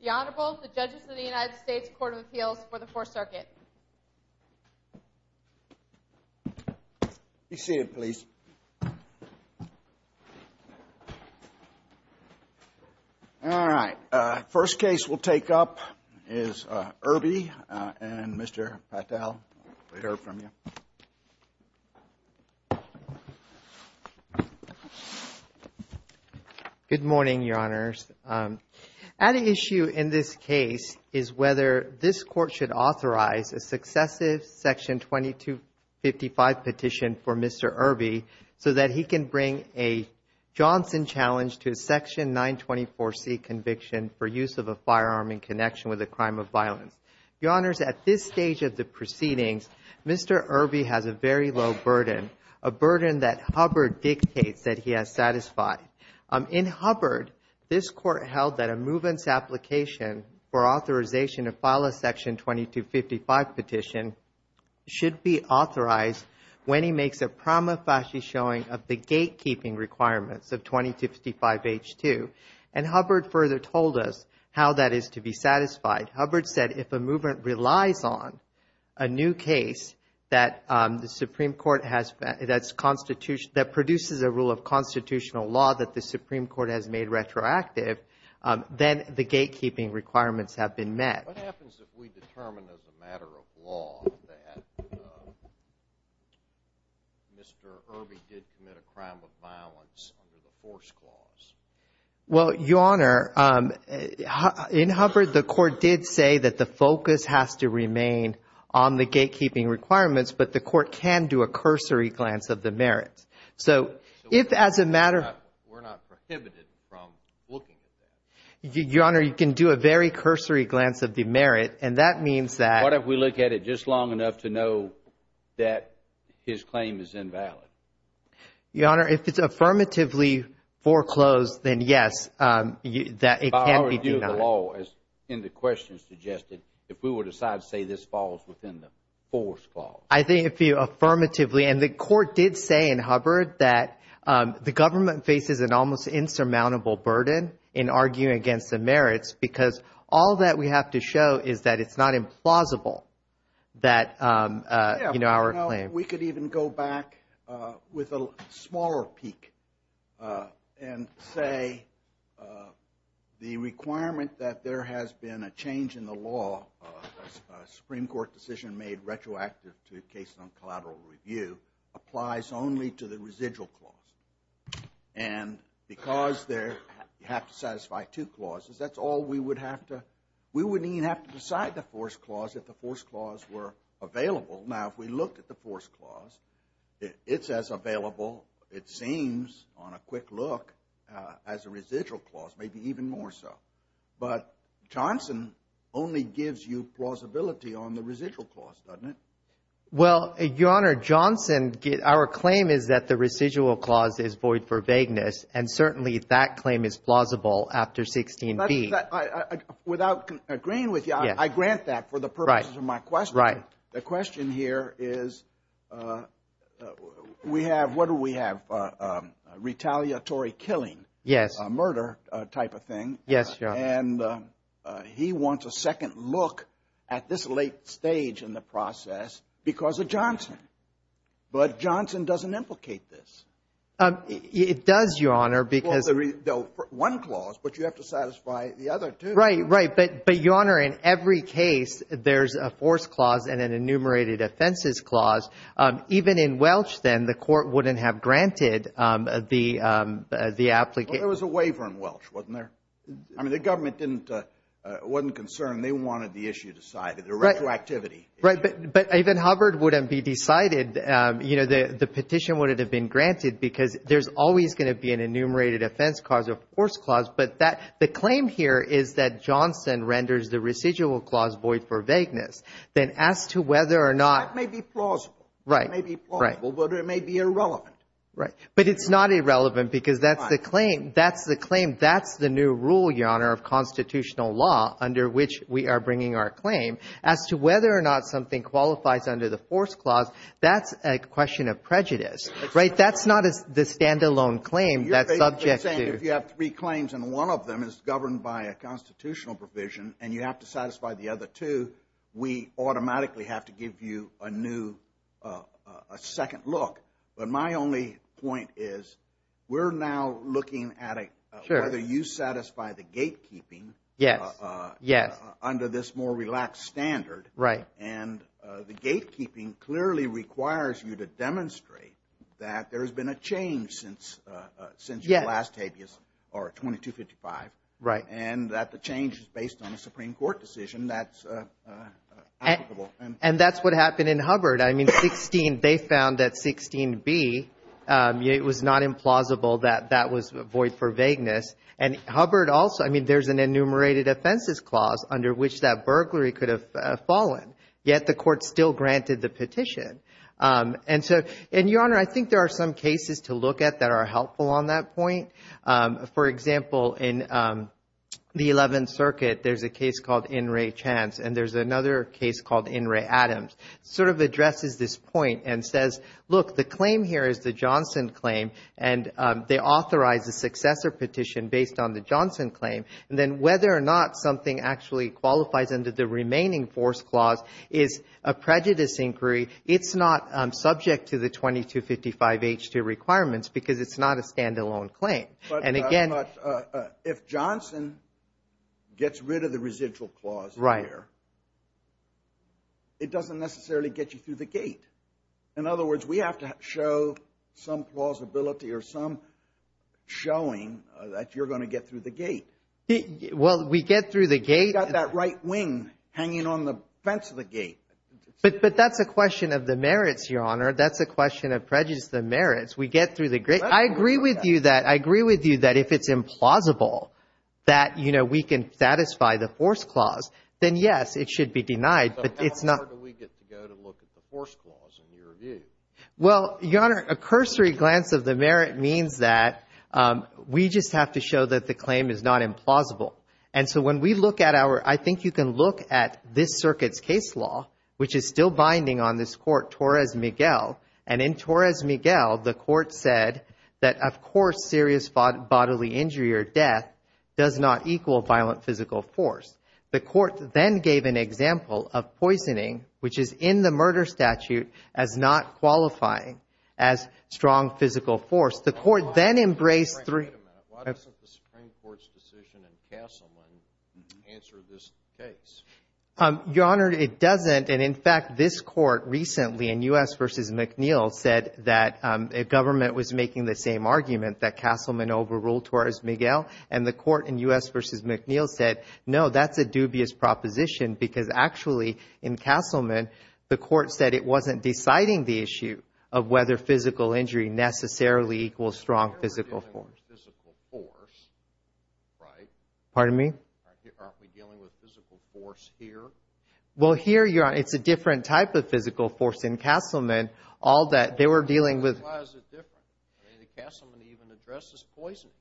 The Honorable, the Judges of the United States Court of Appeals for the Fourth Circuit. Be seated, please. All right. First case we'll take up is Irby and Mr. Patel. We heard from you. Good morning, Your Honors. At issue in this case is whether this Court should authorize a successive Section 2255 petition for Mr. Irby so that he can bring a Johnson challenge to a Section 924C conviction for use of a firearm in connection with a crime of violence. Your Honors, at this stage of the proceedings, Mr. Irby has a very low burden, a burden that Hubbard dictates that he has satisfied. In Hubbard, this Court held that a movement's application for authorization to file a Section 2255 petition should be authorized when he makes a prima facie showing of the gatekeeping requirements of 2255H2. And Hubbard further told us how that is to be satisfied. Hubbard said if a movement relies on a new case that the Supreme Court has, that produces a rule of constitutional law that the Supreme Court has made retroactive, then the gatekeeping requirements have been met. What happens if we determine as a matter of law that Mr. Irby did commit a crime of violence under the Force Clause? Well, Your Honor, in Hubbard, the Court did say that the focus has to remain on the gatekeeping requirements, but the Court can do a cursory glance of the merits. So if as a matter of – We're not prohibited from looking at that. Your Honor, you can do a very cursory glance of the merit, and that means that – What if we look at it just long enough to know that his claim is invalid? Your Honor, if it's affirmatively foreclosed, then yes, that it can be denied. By our view of the law, as in the question suggested, if we were to decide to say this falls within the Force Clause. I think if you affirmatively – and the Court did say in Hubbard that the government faces an almost insurmountable burden in arguing against the merits because all that we have to show is that it's not implausible that our claim – with a smaller peek and say the requirement that there has been a change in the law, a Supreme Court decision made retroactive to a case on collateral review, applies only to the residual clause. And because there – you have to satisfy two clauses, that's all we would have to – we wouldn't even have to decide the Force Clause if the Force Clause were available. Now, if we look at the Force Clause, it's as available, it seems, on a quick look, as a residual clause, maybe even more so. But Johnson only gives you plausibility on the residual clause, doesn't it? Well, Your Honor, Johnson – our claim is that the residual clause is void for vagueness, and certainly that claim is plausible after 16b. Without agreeing with you, I grant that for the purposes of my question. Right. The question here is we have – what do we have? Retaliatory killing. Yes. A murder type of thing. Yes, Your Honor. And he wants a second look at this late stage in the process because of Johnson. But Johnson doesn't implicate this. It does, Your Honor, because – Well, one clause, but you have to satisfy the other two. Right, right. But, Your Honor, in every case, there's a Force Clause and an enumerated offenses clause. Even in Welch, then, the court wouldn't have granted the application. Well, there was a waiver in Welch, wasn't there? I mean, the government didn't – wasn't concerned. They wanted the issue decided, the retroactivity issue. Right, but even Hubbard wouldn't be decided. You know, the petition wouldn't have been granted because there's always going to be an enumerated offense clause or Force Clause. But that – the claim here is that Johnson renders the residual clause void for vagueness. Then as to whether or not – That may be plausible. Right. It may be plausible, but it may be irrelevant. Right. But it's not irrelevant because that's the claim. That's the claim. That's the new rule, Your Honor, of constitutional law under which we are bringing our claim. As to whether or not something qualifies under the Force Clause, that's a question of prejudice. Right? That's not the stand-alone claim that's objective. I'm saying if you have three claims and one of them is governed by a constitutional provision and you have to satisfy the other two, we automatically have to give you a new – a second look. But my only point is we're now looking at whether you satisfy the gatekeeping under this more relaxed standard. Right. And the gatekeeping clearly requires you to demonstrate that there has been a change since your last habeas or 2255. Right. And that the change is based on a Supreme Court decision that's applicable. And that's what happened in Hubbard. I mean, 16 – they found that 16b, it was not implausible that that was void for vagueness. And Hubbard also – I mean, there's an enumerated offenses clause under which that burglary could have fallen, yet the court still granted the petition. And so – and, Your Honor, I think there are some cases to look at that are helpful on that point. For example, in the 11th Circuit, there's a case called In re Chance, and there's another case called In re Adams. It sort of addresses this point and says, look, the claim here is the Johnson claim, and they authorize a successor petition based on the Johnson claim. And then whether or not something actually qualifies under the remaining force clause is a prejudice inquiry. It's not subject to the 2255H2 requirements because it's not a stand-alone claim. And again – But if Johnson gets rid of the residual clause in there, it doesn't necessarily get you through the gate. In other words, we have to show some plausibility or some showing that you're going to get through the gate. Well, we get through the gate. You've got that right wing hanging on the fence of the gate. But that's a question of the merits, Your Honor. That's a question of prejudice of the merits. We get through the gate. I agree with you that – I agree with you that if it's implausible that, you know, we can satisfy the force clause, then, yes, it should be denied, but it's not – How do we get to go to look at the force clause in your view? Well, Your Honor, a cursory glance of the merit means that we just have to show that the claim is not implausible. And so when we look at our – I think you can look at this circuit's case law, which is still binding on this Court, Torres-Miguel, and in Torres-Miguel, the Court said that, of course, serious bodily injury or death does not equal violent physical force. The Court then gave an example of poisoning, which is in the murder statute, as not qualifying as strong physical force. The Court then embraced three – Wait a minute. Why doesn't the Supreme Court's decision in Castleman answer this case? Your Honor, it doesn't. And, in fact, this Court recently in U.S. v. McNeil said that a government was making the same argument, that Castleman overruled Torres-Miguel. And the Court in U.S. v. McNeil said, no, that's a dubious proposition because, actually, in Castleman, the Court said it wasn't deciding the issue of whether physical injury necessarily equals strong physical force. You're dealing with physical force, right? Pardon me? Aren't we dealing with physical force here? Well, here, Your Honor, it's a different type of physical force in Castleman. All that – they were dealing with – Why is it different? I mean, Castleman even addresses poisoning.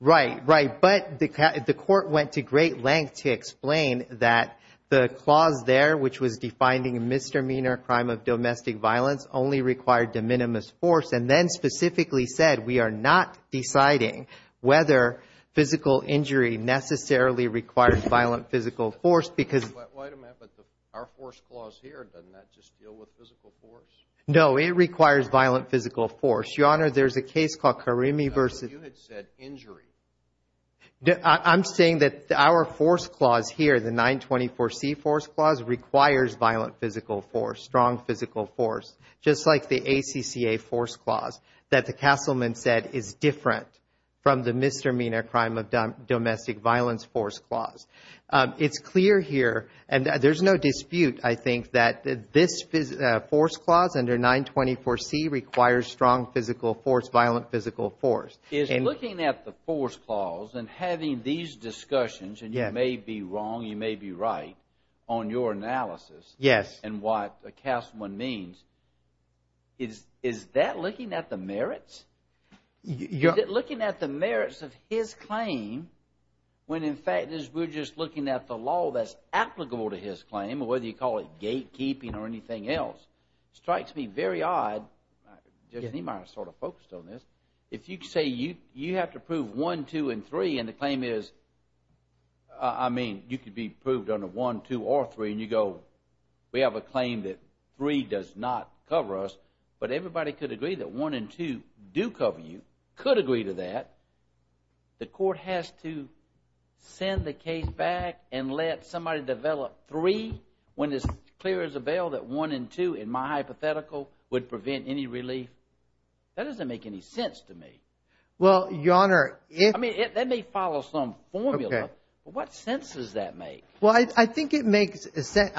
Right, right. But the Court went to great lengths to explain that the clause there, which was defining a misdemeanor crime of domestic violence, only required de minimis force, and then specifically said we are not deciding whether physical injury necessarily requires violent physical force because – Wait a minute. But our force clause here, doesn't that just deal with physical force? No, it requires violent physical force. Your Honor, there's a case called Karimi v. – You had said injury. I'm saying that our force clause here, the 924C force clause, requires violent physical force, strong physical force, just like the ACCA force clause that the Castleman said is different from the misdemeanor crime of domestic violence force clause. It's clear here, and there's no dispute, I think, that this force clause under 924C requires strong physical force, violent physical force. Is looking at the force clause and having these discussions, and you may be wrong, you may be right, on your analysis and what the Castleman means, is that looking at the merits? Is it looking at the merits of his claim when, in fact, we're just looking at the law that's applicable to his claim, whether you call it gatekeeping or anything else? It strikes me very odd. Judge Niemeyer sort of focused on this. If you say you have to prove 1, 2, and 3, and the claim is, I mean, you could be proved under 1, 2, or 3, and you go, we have a claim that 3 does not cover us, but everybody could agree that 1 and 2 do cover you, could agree to that, the court has to send the case back and let somebody develop 3 when it's clear as a bell that 1 and 2, in my hypothetical, would prevent any relief. That doesn't make any sense to me. Well, Your Honor, if... I mean, that may follow some formula, but what sense does that make? Well, I think it makes sense.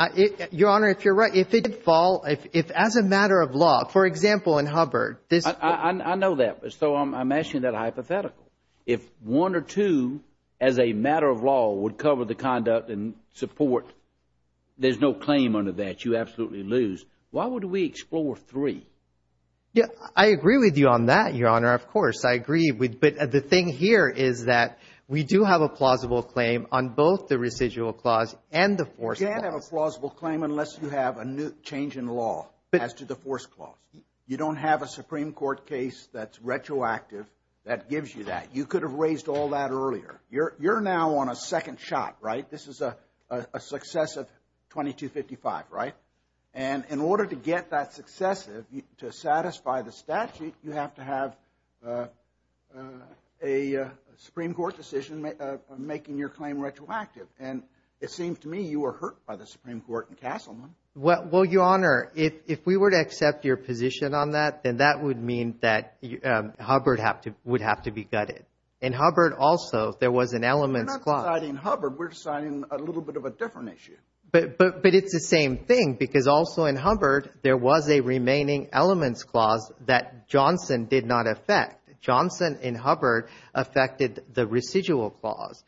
Your Honor, if you're right, if it did fall, if as a matter of law, for example, in Hubbard, this... I know that, so I'm asking that hypothetical. If 1 or 2, as a matter of law, would cover the conduct and support, there's no claim under that. You absolutely lose. Why would we explore 3? Yeah, I agree with you on that, Your Honor. Of course, I agree. But the thing here is that we do have a plausible claim on both the residual clause and the forced clause. You can't have a plausible claim unless you have a change in law as to the forced clause. You don't have a Supreme Court case that's retroactive that gives you that. You could have raised all that earlier. You're now on a second shot, right? This is a successive 2255, right? And in order to get that successive, to satisfy the statute, you have to have a Supreme Court decision making your claim retroactive. And it seemed to me you were hurt by the Supreme Court in Castleman. Well, Your Honor, if we were to accept your position on that, then that would mean that Hubbard would have to be gutted. In Hubbard, also, there was an elements clause. We're not deciding Hubbard. We're deciding a little bit of a different issue. But it's the same thing because also in Hubbard, there was a remaining elements clause that Johnson did not affect. Johnson in Hubbard affected the residual clause.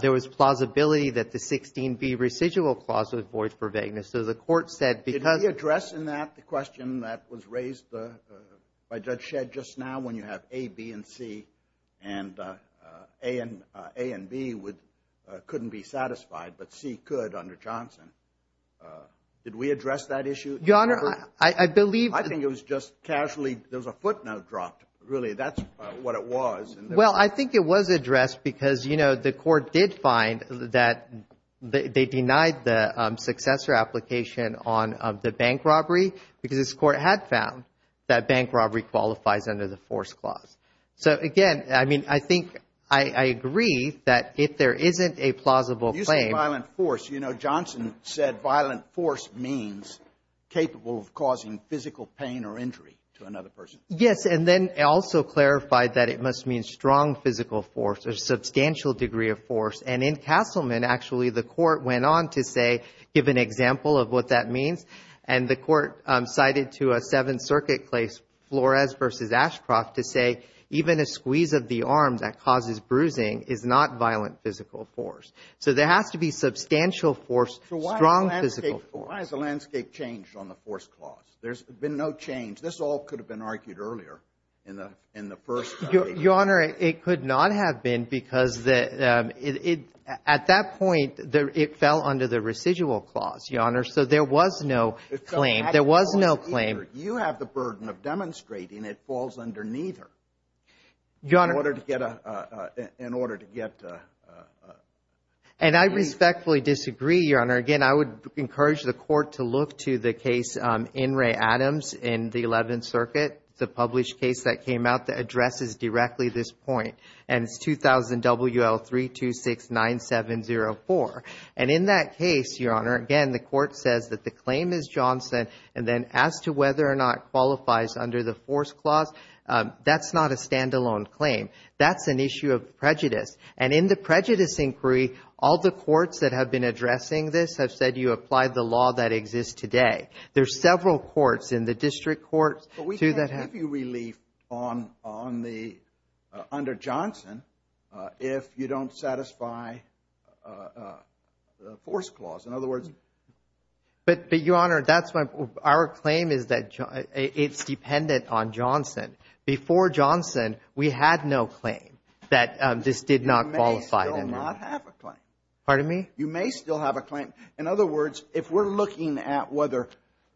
There was plausibility that the 16B residual clause was void for vagueness. So the Court said because of the- Did we address in that the question that was raised by Judge Shedd just now when you have A, B, and C, and A and B couldn't be satisfied but C could under Johnson? Did we address that issue in Hubbard? Your Honor, I believe- I think it was just casually. There was a footnote dropped. Really, that's what it was. Well, I think it was addressed because, you know, the Court did find that they denied the successor application on the bank robbery because this Court had found that bank robbery qualifies under the force clause. So, again, I mean, I think I agree that if there isn't a plausible claim- You said violent force. You know, Johnson said violent force means capable of causing physical pain or injury to another person. Yes, and then also clarified that it must mean strong physical force or substantial degree of force. And in Castleman, actually, the Court went on to say, give an example of what that means, and the Court cited to a Seventh Circuit case, Flores v. Ashcroft, to say even a squeeze of the arm that causes bruising is not violent physical force. So there has to be substantial force, strong physical force. So why has the landscape changed on the force clause? There's been no change. This all could have been argued earlier in the first- Your Honor, it could not have been because at that point, it fell under the residual clause, Your Honor. So there was no claim. There was no claim. You have the burden of demonstrating it falls under neither in order to get- And I respectfully disagree, Your Honor. Again, I would encourage the Court to look to the case, In re Adams, in the Eleventh Circuit, the published case that came out that addresses directly this point, and it's 2000 WL 3269704. And in that case, Your Honor, again, the Court says that the claim is Johnson, and then as to whether or not it qualifies under the force clause, that's not a standalone claim. That's an issue of prejudice. And in the prejudice inquiry, all the courts that have been addressing this have said you apply the law that exists today. There are several courts in the district courts- But we can't give you relief under Johnson if you don't satisfy the force clause. In other words- But, Your Honor, that's why our claim is that it's dependent on Johnson. Before Johnson, we had no claim that this did not qualify under- You may still not have a claim. Pardon me? You may still have a claim. In other words, if we're looking at whether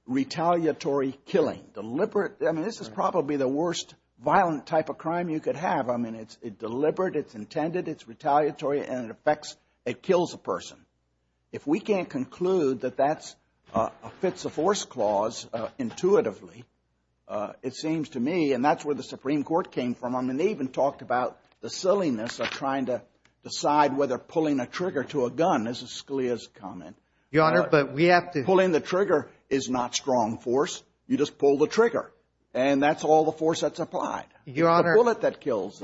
retaliatory killing, deliberate- I mean, this is probably the worst violent type of crime you could have. I mean, it's deliberate, it's intended, it's retaliatory, and it affects, it kills a person. If we can't conclude that that fits a force clause intuitively, it seems to me, and that's where the Supreme Court came from. I mean, they even talked about the silliness of trying to decide whether pulling a trigger to a gun is Scalia's comment. Your Honor, but we have to- Pulling the trigger is not strong force. You just pull the trigger, and that's all the force that's applied. Your Honor- It's the bullet that kills.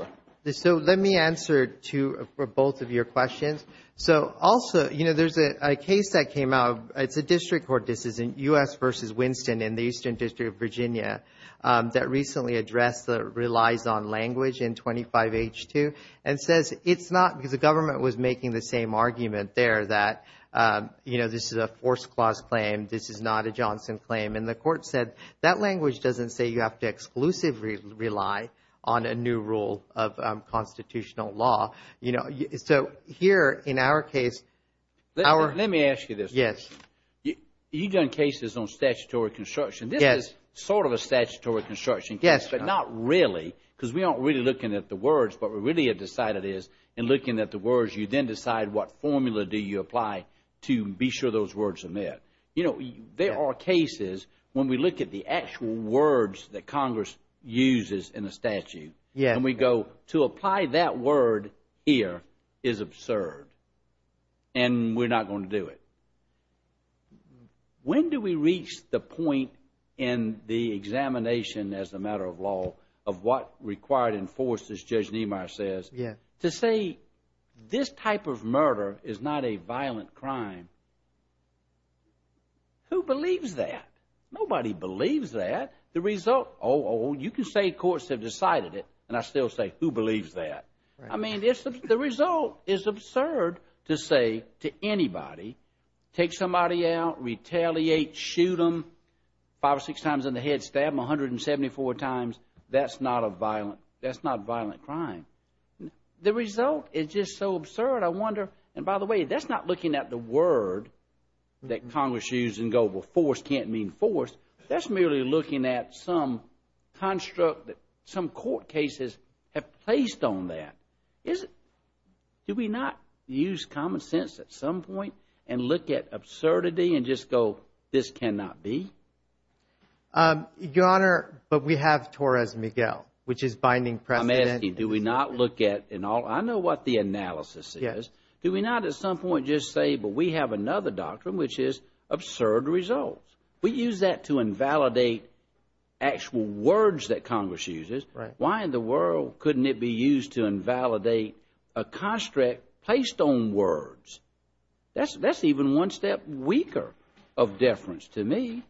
So let me answer to both of your questions. So also, you know, there's a case that came out. It's a district court decision, U.S. v. Winston in the Eastern District of Virginia, that recently addressed the relies on language in 25H2, and says it's not because the government was making the same argument there that, you know, this is a force clause claim. This is not a Johnson claim, and the court said that language doesn't say you have to exclusively rely on a new rule of constitutional law. You know, so here in our case, our- Let me ask you this. Yes. You've done cases on statutory construction. Yes. This is sort of a statutory construction case. Yes. But not really because we aren't really looking at the words. What we really have decided is in looking at the words, you then decide what formula do you apply to be sure those words are met. You know, there are cases when we look at the actual words that Congress uses in a statute. Yes. And we go, to apply that word here is absurd, and we're not going to do it. When do we reach the point in the examination as a matter of law of what required and forced, as Judge Niemeyer says- Yes. To say this type of murder is not a violent crime? Who believes that? Nobody believes that. Oh, you can say courts have decided it, and I still say, who believes that? I mean, the result is absurd to say to anybody, take somebody out, retaliate, shoot them, five or six times in the head, stab them 174 times, that's not a violent, that's not a violent crime. The result is just so absurd, I wonder, and by the way, that's not looking at the word that Congress used and go, well, forced can't mean forced. That's merely looking at some construct that some court cases have placed on that. Do we not use common sense at some point and look at absurdity and just go, this cannot be? Your Honor, but we have Torres-Miguel, which is binding precedent. I'm asking, do we not look at, and I know what the analysis is. Do we not at some point just say, but we have another doctrine, which is absurd results? We use that to invalidate actual words that Congress uses. Why in the world couldn't it be used to invalidate a construct placed on words? That's even one step weaker of deference to me.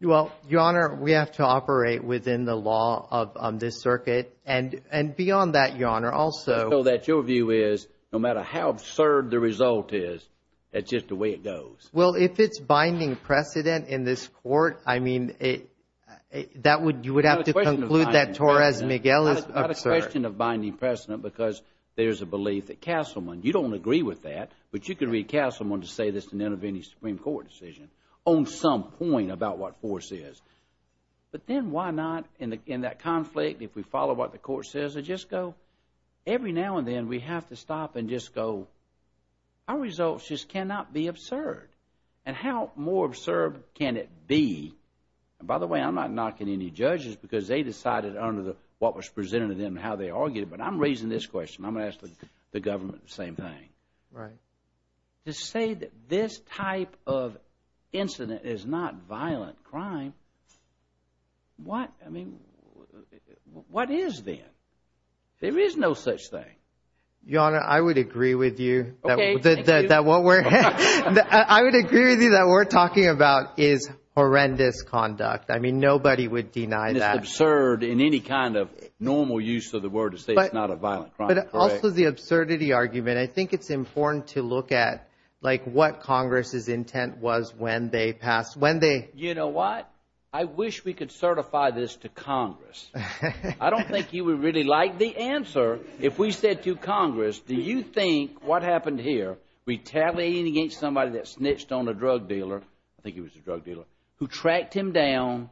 Well, Your Honor, we have to operate within the law of this circuit, and beyond that, Your Honor, also. So that your view is, no matter how absurd the result is, that's just the way it goes. Well, if it's binding precedent in this court, I mean, you would have to conclude that Torres-Miguel is absurd. It's not a question of binding precedent because there's a belief that Castleman, you don't agree with that, but you could read Castleman to say this in any Supreme Court decision on some point about what force is. But then why not, in that conflict, if we follow what the court says, and just go? Every now and then, we have to stop and just go, our results just cannot be absurd. And how more absurd can it be? And by the way, I'm not knocking any judges because they decided under what was presented to them and how they argued, but I'm raising this question. I'm going to ask the government the same thing. Right. To say that this type of incident is not violent crime, what, I mean, what is then? There is no such thing. Your Honor, I would agree with you. Okay. I would agree with you that what we're talking about is horrendous conduct. I mean, nobody would deny that. It's absurd in any kind of normal use of the word to say it's not a violent crime. But also the absurdity argument. I think it's important to look at, like, what Congress's intent was when they passed, when they... You know what? I wish we could certify this to Congress. I don't think you would really like the answer if we said to Congress, do you think what happened here, retaliating against somebody that snitched on a drug dealer, I think he was a drug dealer, who tracked him down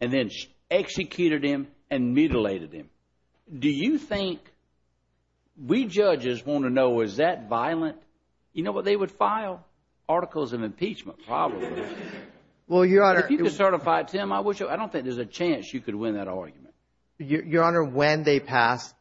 and then executed him and mutilated him. Do you think we judges want to know, is that violent? You know what they would file? Well, Your Honor. If you could certify it to them, I don't think there's a chance you could win that argument. Your Honor, when they passed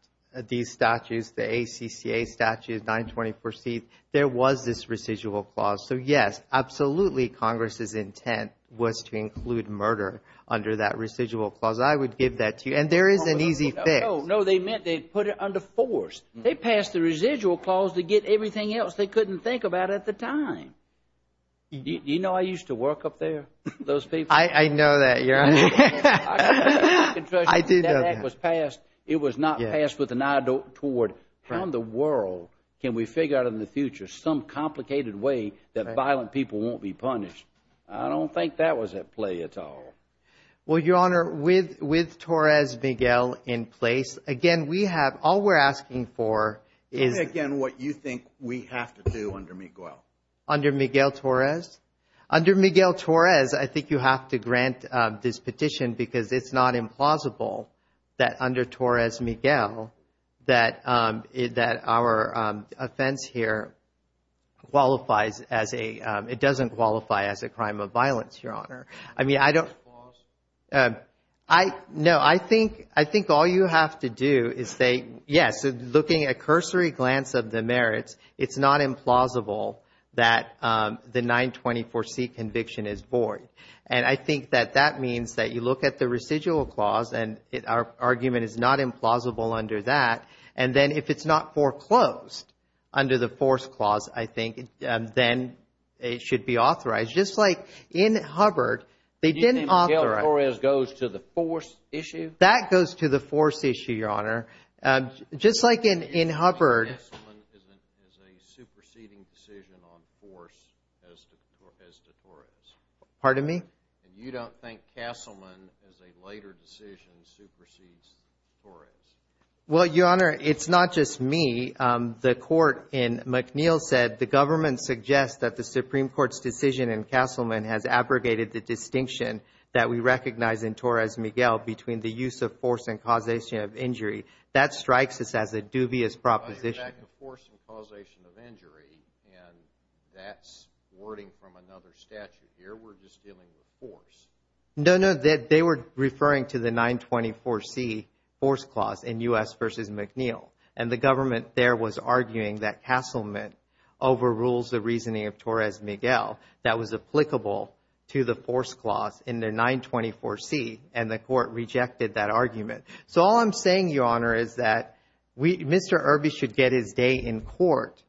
these statutes, the ACCA statute, 924C, there was this residual clause. So, yes, absolutely Congress's intent was to include murder under that residual clause. I would give that to you. And there is an easy fix. No, they meant they put it under force. They passed the residual clause to get everything else they couldn't think about at the time. Do you know I used to work up there, those people? I know that, Your Honor. I do know that. That act was passed. It was not passed with an eye toward how in the world can we figure out in the future some complicated way that violent people won't be punished. I don't think that was at play at all. Well, Your Honor, with Torres Miguel in place, again, we have – all we're asking for is – Is, again, what you think we have to do under Miguel. Under Miguel Torres? Under Miguel Torres, I think you have to grant this petition because it's not implausible that under Torres Miguel that our offense here qualifies as a – it doesn't qualify as a crime of violence, Your Honor. I mean, I don't – I – no, I think all you have to do is say, yes, looking at cursory glance of the merits, it's not implausible that the 924C conviction is void. And I think that that means that you look at the residual clause and our argument is not implausible under that. And then if it's not foreclosed under the force clause, I think, then it should be authorized. Just like in Hubbard, they didn't authorize – You think Miguel Torres goes to the force issue? That goes to the force issue, Your Honor. Just like in Hubbard – You don't think Castleman is a superseding decision on force as to Torres? Pardon me? You don't think Castleman as a later decision supersedes Torres? Well, Your Honor, it's not just me. The court in McNeil said the government suggests that the Supreme Court's decision in Castleman has abrogated the distinction that we recognize in Torres Miguel between the use of force and causation of injury. That strikes us as a dubious proposition. I'm talking about the force and causation of injury, and that's wording from another statute here. We're just dealing with force. No, no. They were referring to the 924C force clause in U.S. v. McNeil. And the government there was arguing that Castleman overrules the reasoning of Torres Miguel that was applicable to the force clause in the 924C, and the court rejected that argument. So all I'm saying, Your Honor, is that Mr. Irby should get his day in court.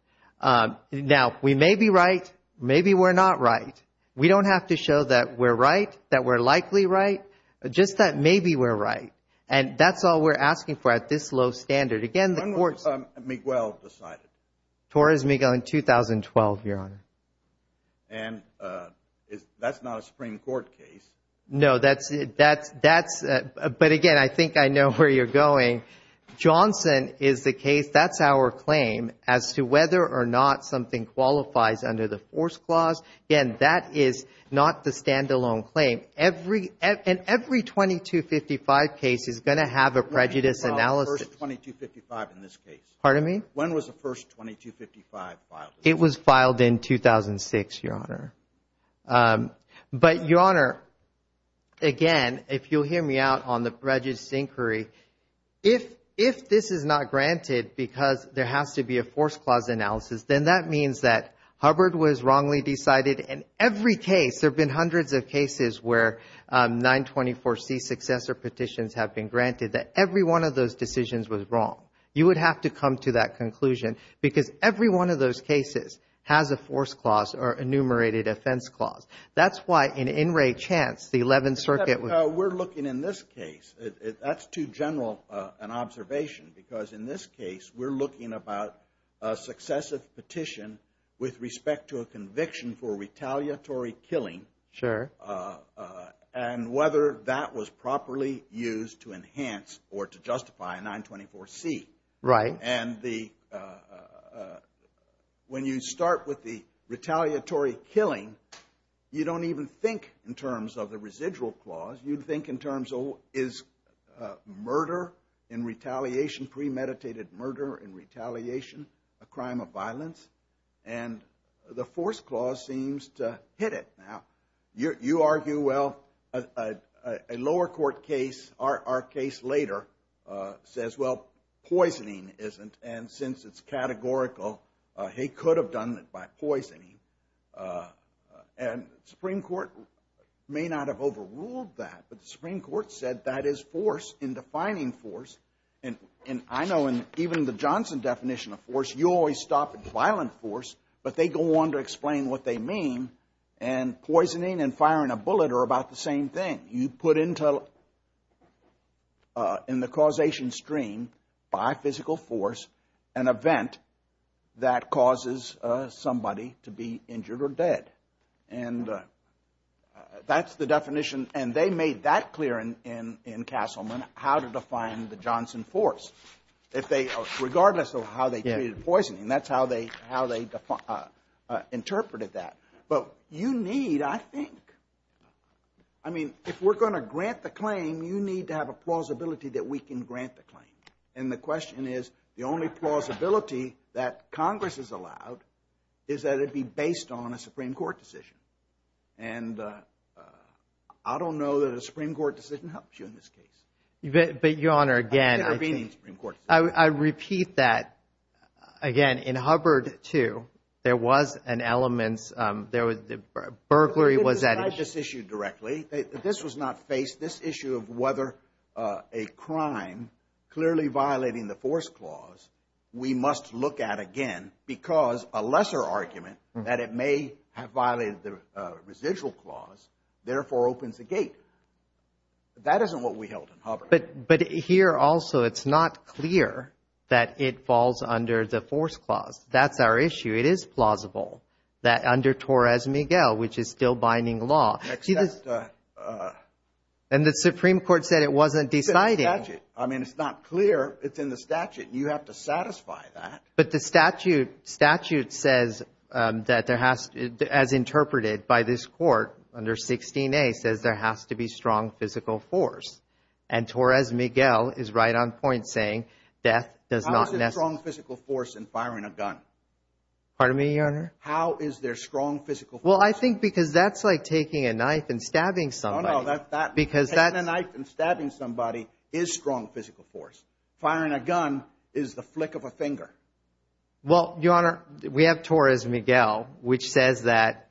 Now, we may be right. Maybe we're not right. We don't have to show that we're right, that we're likely right, just that maybe we're right. And that's all we're asking for at this low standard. Again, the court's – When was Miguel decided? Torres Miguel in 2012, Your Honor. And that's not a Supreme Court case. No, that's – But, again, I think I know where you're going. Johnson is the case. That's our claim as to whether or not something qualifies under the force clause. Again, that is not the standalone claim. And every 2255 case is going to have a prejudice analysis. When was the first 2255 in this case? Pardon me? When was the first 2255 filed? It was filed in 2006, Your Honor. But, Your Honor, again, if you'll hear me out on the prejudice inquiry, if this is not granted because there has to be a force clause analysis, then that means that Hubbard was wrongly decided in every case. There have been hundreds of cases where 924C successor petitions have been granted, that every one of those decisions was wrong. You would have to come to that conclusion, because every one of those cases has a force clause or enumerated offense clause. That's why in In re Chance, the 11th Circuit was – We're looking in this case. That's too general an observation because, in this case, we're looking about a successive petition with respect to a conviction for retaliatory killing. Sure. And whether that was properly used to enhance or to justify a 924C. Right. And the – when you start with the retaliatory killing, you don't even think in terms of the residual clause. You'd think in terms of is murder in retaliation, premeditated murder in retaliation, a crime of violence. And the force clause seems to hit it. Now, you argue, well, a lower court case, our case later, says, well, poisoning isn't, and since it's categorical, he could have done it by poisoning. And the Supreme Court may not have overruled that, but the Supreme Court said that is force in defining force. And I know in even the Johnson definition of force, you always stop at violent force, but they go on to explain what they mean. And poisoning and firing a bullet are about the same thing. You put into – in the causation stream by physical force an event that causes somebody to be injured or dead. And that's the definition, and they made that clear in Castleman, how to define the Johnson force. If they – regardless of how they treated poisoning, that's how they interpreted that. But you need, I think – I mean, if we're going to grant the claim, you need to have a plausibility that we can grant the claim. And the question is, the only plausibility that Congress has allowed is that it be based on a Supreme Court decision. And I don't know that a Supreme Court decision helps you in this case. But, Your Honor, again, I repeat that. Again, in Hubbard, too, there was an element – there was – burglary was at issue. They didn't decide this issue directly. This was not faced. This issue of whether a crime clearly violating the force clause we must look at again because a lesser argument that it may have violated the residual clause therefore opens the gate. That isn't what we held in Hubbard. But here also it's not clear that it falls under the force clause. That's our issue. It is plausible that under Torres Miguel, which is still binding law. And the Supreme Court said it wasn't decided. It's in the statute. I mean, it's not clear. It's in the statute. You have to satisfy that. But the statute says that there has – as interpreted by this court under 16A, it says there has to be strong physical force. And Torres Miguel is right on point saying death does not – How is there strong physical force in firing a gun? Pardon me, Your Honor? How is there strong physical force? Well, I think because that's like taking a knife and stabbing somebody. No, no, that – Because that – Taking a knife and stabbing somebody is strong physical force. Firing a gun is the flick of a finger. Well, Your Honor, we have Torres Miguel, which says that –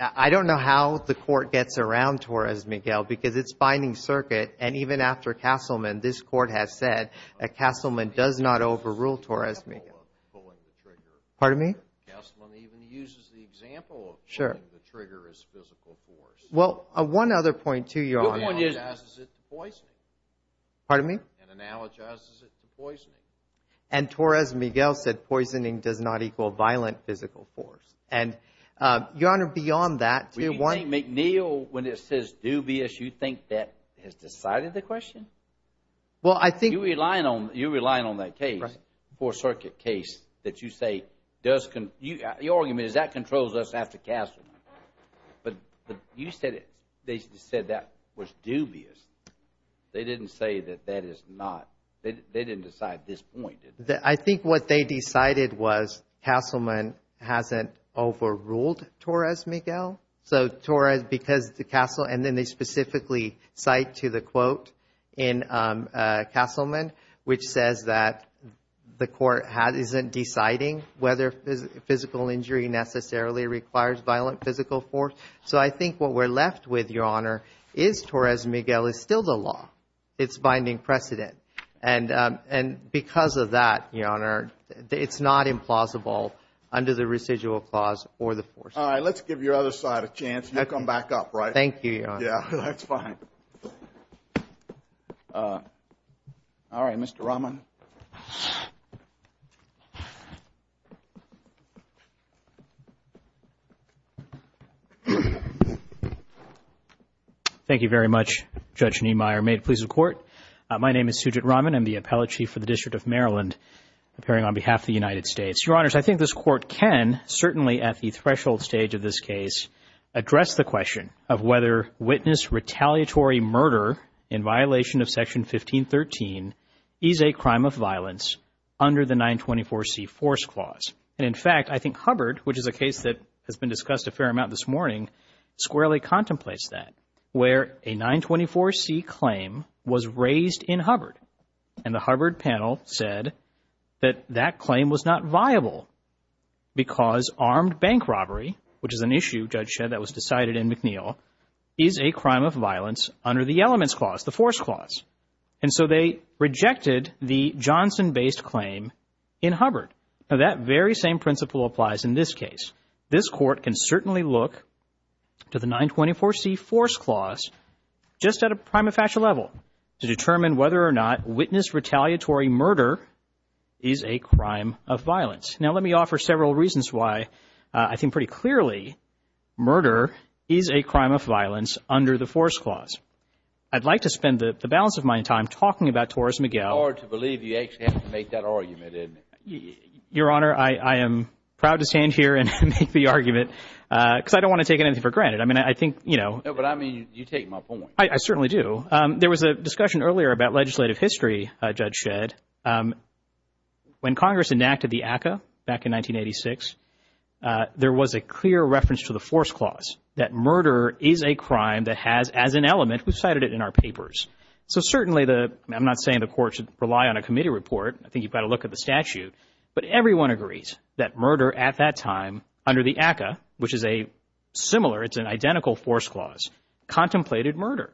I don't know how the court gets around Torres Miguel because it's binding circuit. And even after Castleman, this court has said that Castleman does not overrule Torres Miguel. Pardon me? Castleman even uses the example of pulling the trigger as physical force. Well, one other point, too, Your Honor. Which point is it? And analogizes it to poisoning. Pardon me? And analogizes it to poisoning. And Torres Miguel said poisoning does not equal violent physical force. And, Your Honor, beyond that – McNeil, when it says dubious, you think that has decided the question? Well, I think – You're relying on that case for a circuit case that you say does – Your argument is that controls us after Castleman. But you said it – they said that was dubious. They didn't say that that is not – they didn't decide this point, did they? I think what they decided was Castleman hasn't overruled Torres Miguel. So Torres, because the Castle – and then they specifically cite to the quote in Castleman, which says that the court isn't deciding whether physical injury necessarily requires violent physical force. So I think what we're left with, Your Honor, is Torres Miguel is still the law. It's binding precedent. And because of that, Your Honor, it's not implausible under the residual clause or the force. All right. Let's give your other side a chance. You'll come back up, right? Thank you, Your Honor. Yeah, that's fine. All right. Mr. Rahman. Thank you very much, Judge Niemeyer. May it please the Court. My name is Sujit Rahman. I'm the Appellate Chief for the District of Maryland, appearing on behalf of the United States. Your Honors, I think this Court can, certainly at the threshold stage of this case, address the question of whether witness retaliatory murder in violation of Section 1513 is a crime of violence under the 924C Force Clause. And, in fact, I think Hubbard, which is a case that has been discussed a fair amount this morning, squarely contemplates that, where a 924C claim was raised in Hubbard, and the Hubbard panel said that that claim was not viable because armed bank robbery, which is an issue, Judge Shedd, that was decided in McNeil, is a crime of violence under the Elements Clause, the Force Clause. And so they rejected the Johnson-based claim in Hubbard. Now, that very same principle applies in this case. This Court can certainly look to the 924C Force Clause just at a prima facie level to determine whether or not witness retaliatory murder is a crime of violence. Now, let me offer several reasons why I think pretty clearly murder is a crime of violence under the Force Clause. I'd like to spend the balance of my time talking about Torres Miguel. It's hard to believe you actually had to make that argument, isn't it? Your Honor, I am proud to stand here and make the argument because I don't want to take anything for granted. I mean, I think, you know. No, but I mean you take my point. I certainly do. There was a discussion earlier about legislative history, Judge Shedd. When Congress enacted the ACCA back in 1986, there was a clear reference to the Force Clause, that murder is a crime that has, as an element, we've cited it in our papers. So certainly, I'm not saying the Court should rely on a committee report. I think you've got to look at the statute. But everyone agrees that murder at that time under the ACCA, which is a similar, it's an identical Force Clause, contemplated murder.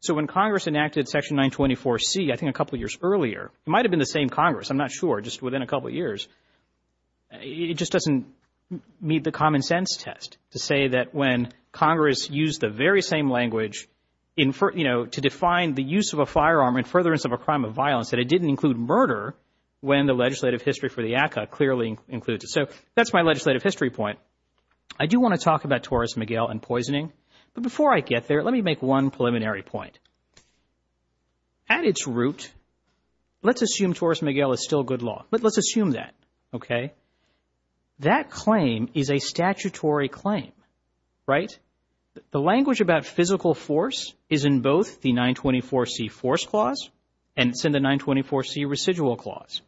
So when Congress enacted Section 924C, I think a couple of years earlier, it might have been the same Congress, I'm not sure, just within a couple of years, it just doesn't meet the common sense test to say that when Congress used the very same language, you know, to define the use of a firearm in furtherance of a crime of violence, that it didn't include murder when the legislative history for the ACCA clearly includes it. So that's my legislative history point. I do want to talk about Torres Miguel and poisoning. But before I get there, let me make one preliminary point. At its root, let's assume Torres Miguel is still good law, but let's assume that, okay? That claim is a statutory claim, right? The language about physical force is in both the 924C Force Clause and it's in the 924C Residual Clause.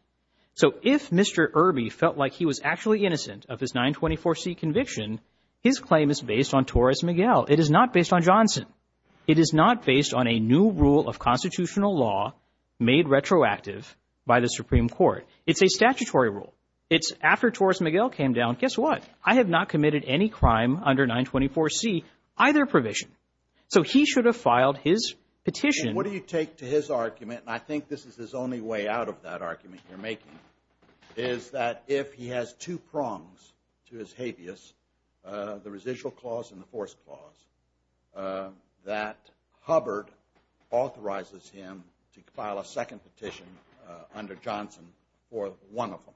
So if Mr. Irby felt like he was actually innocent of his 924C conviction, his claim is based on Torres Miguel. It is not based on Johnson. It is not based on a new rule of constitutional law made retroactive by the Supreme Court. It's a statutory rule. It's after Torres Miguel came down, guess what? I have not committed any crime under 924C, either provision. So he should have filed his petition. What do you take to his argument, and I think this is his only way out of that argument you're making, is that if he has two prongs to his habeas, the Residual Clause and the Force Clause, that Hubbard authorizes him to file a second petition under Johnson for one of them.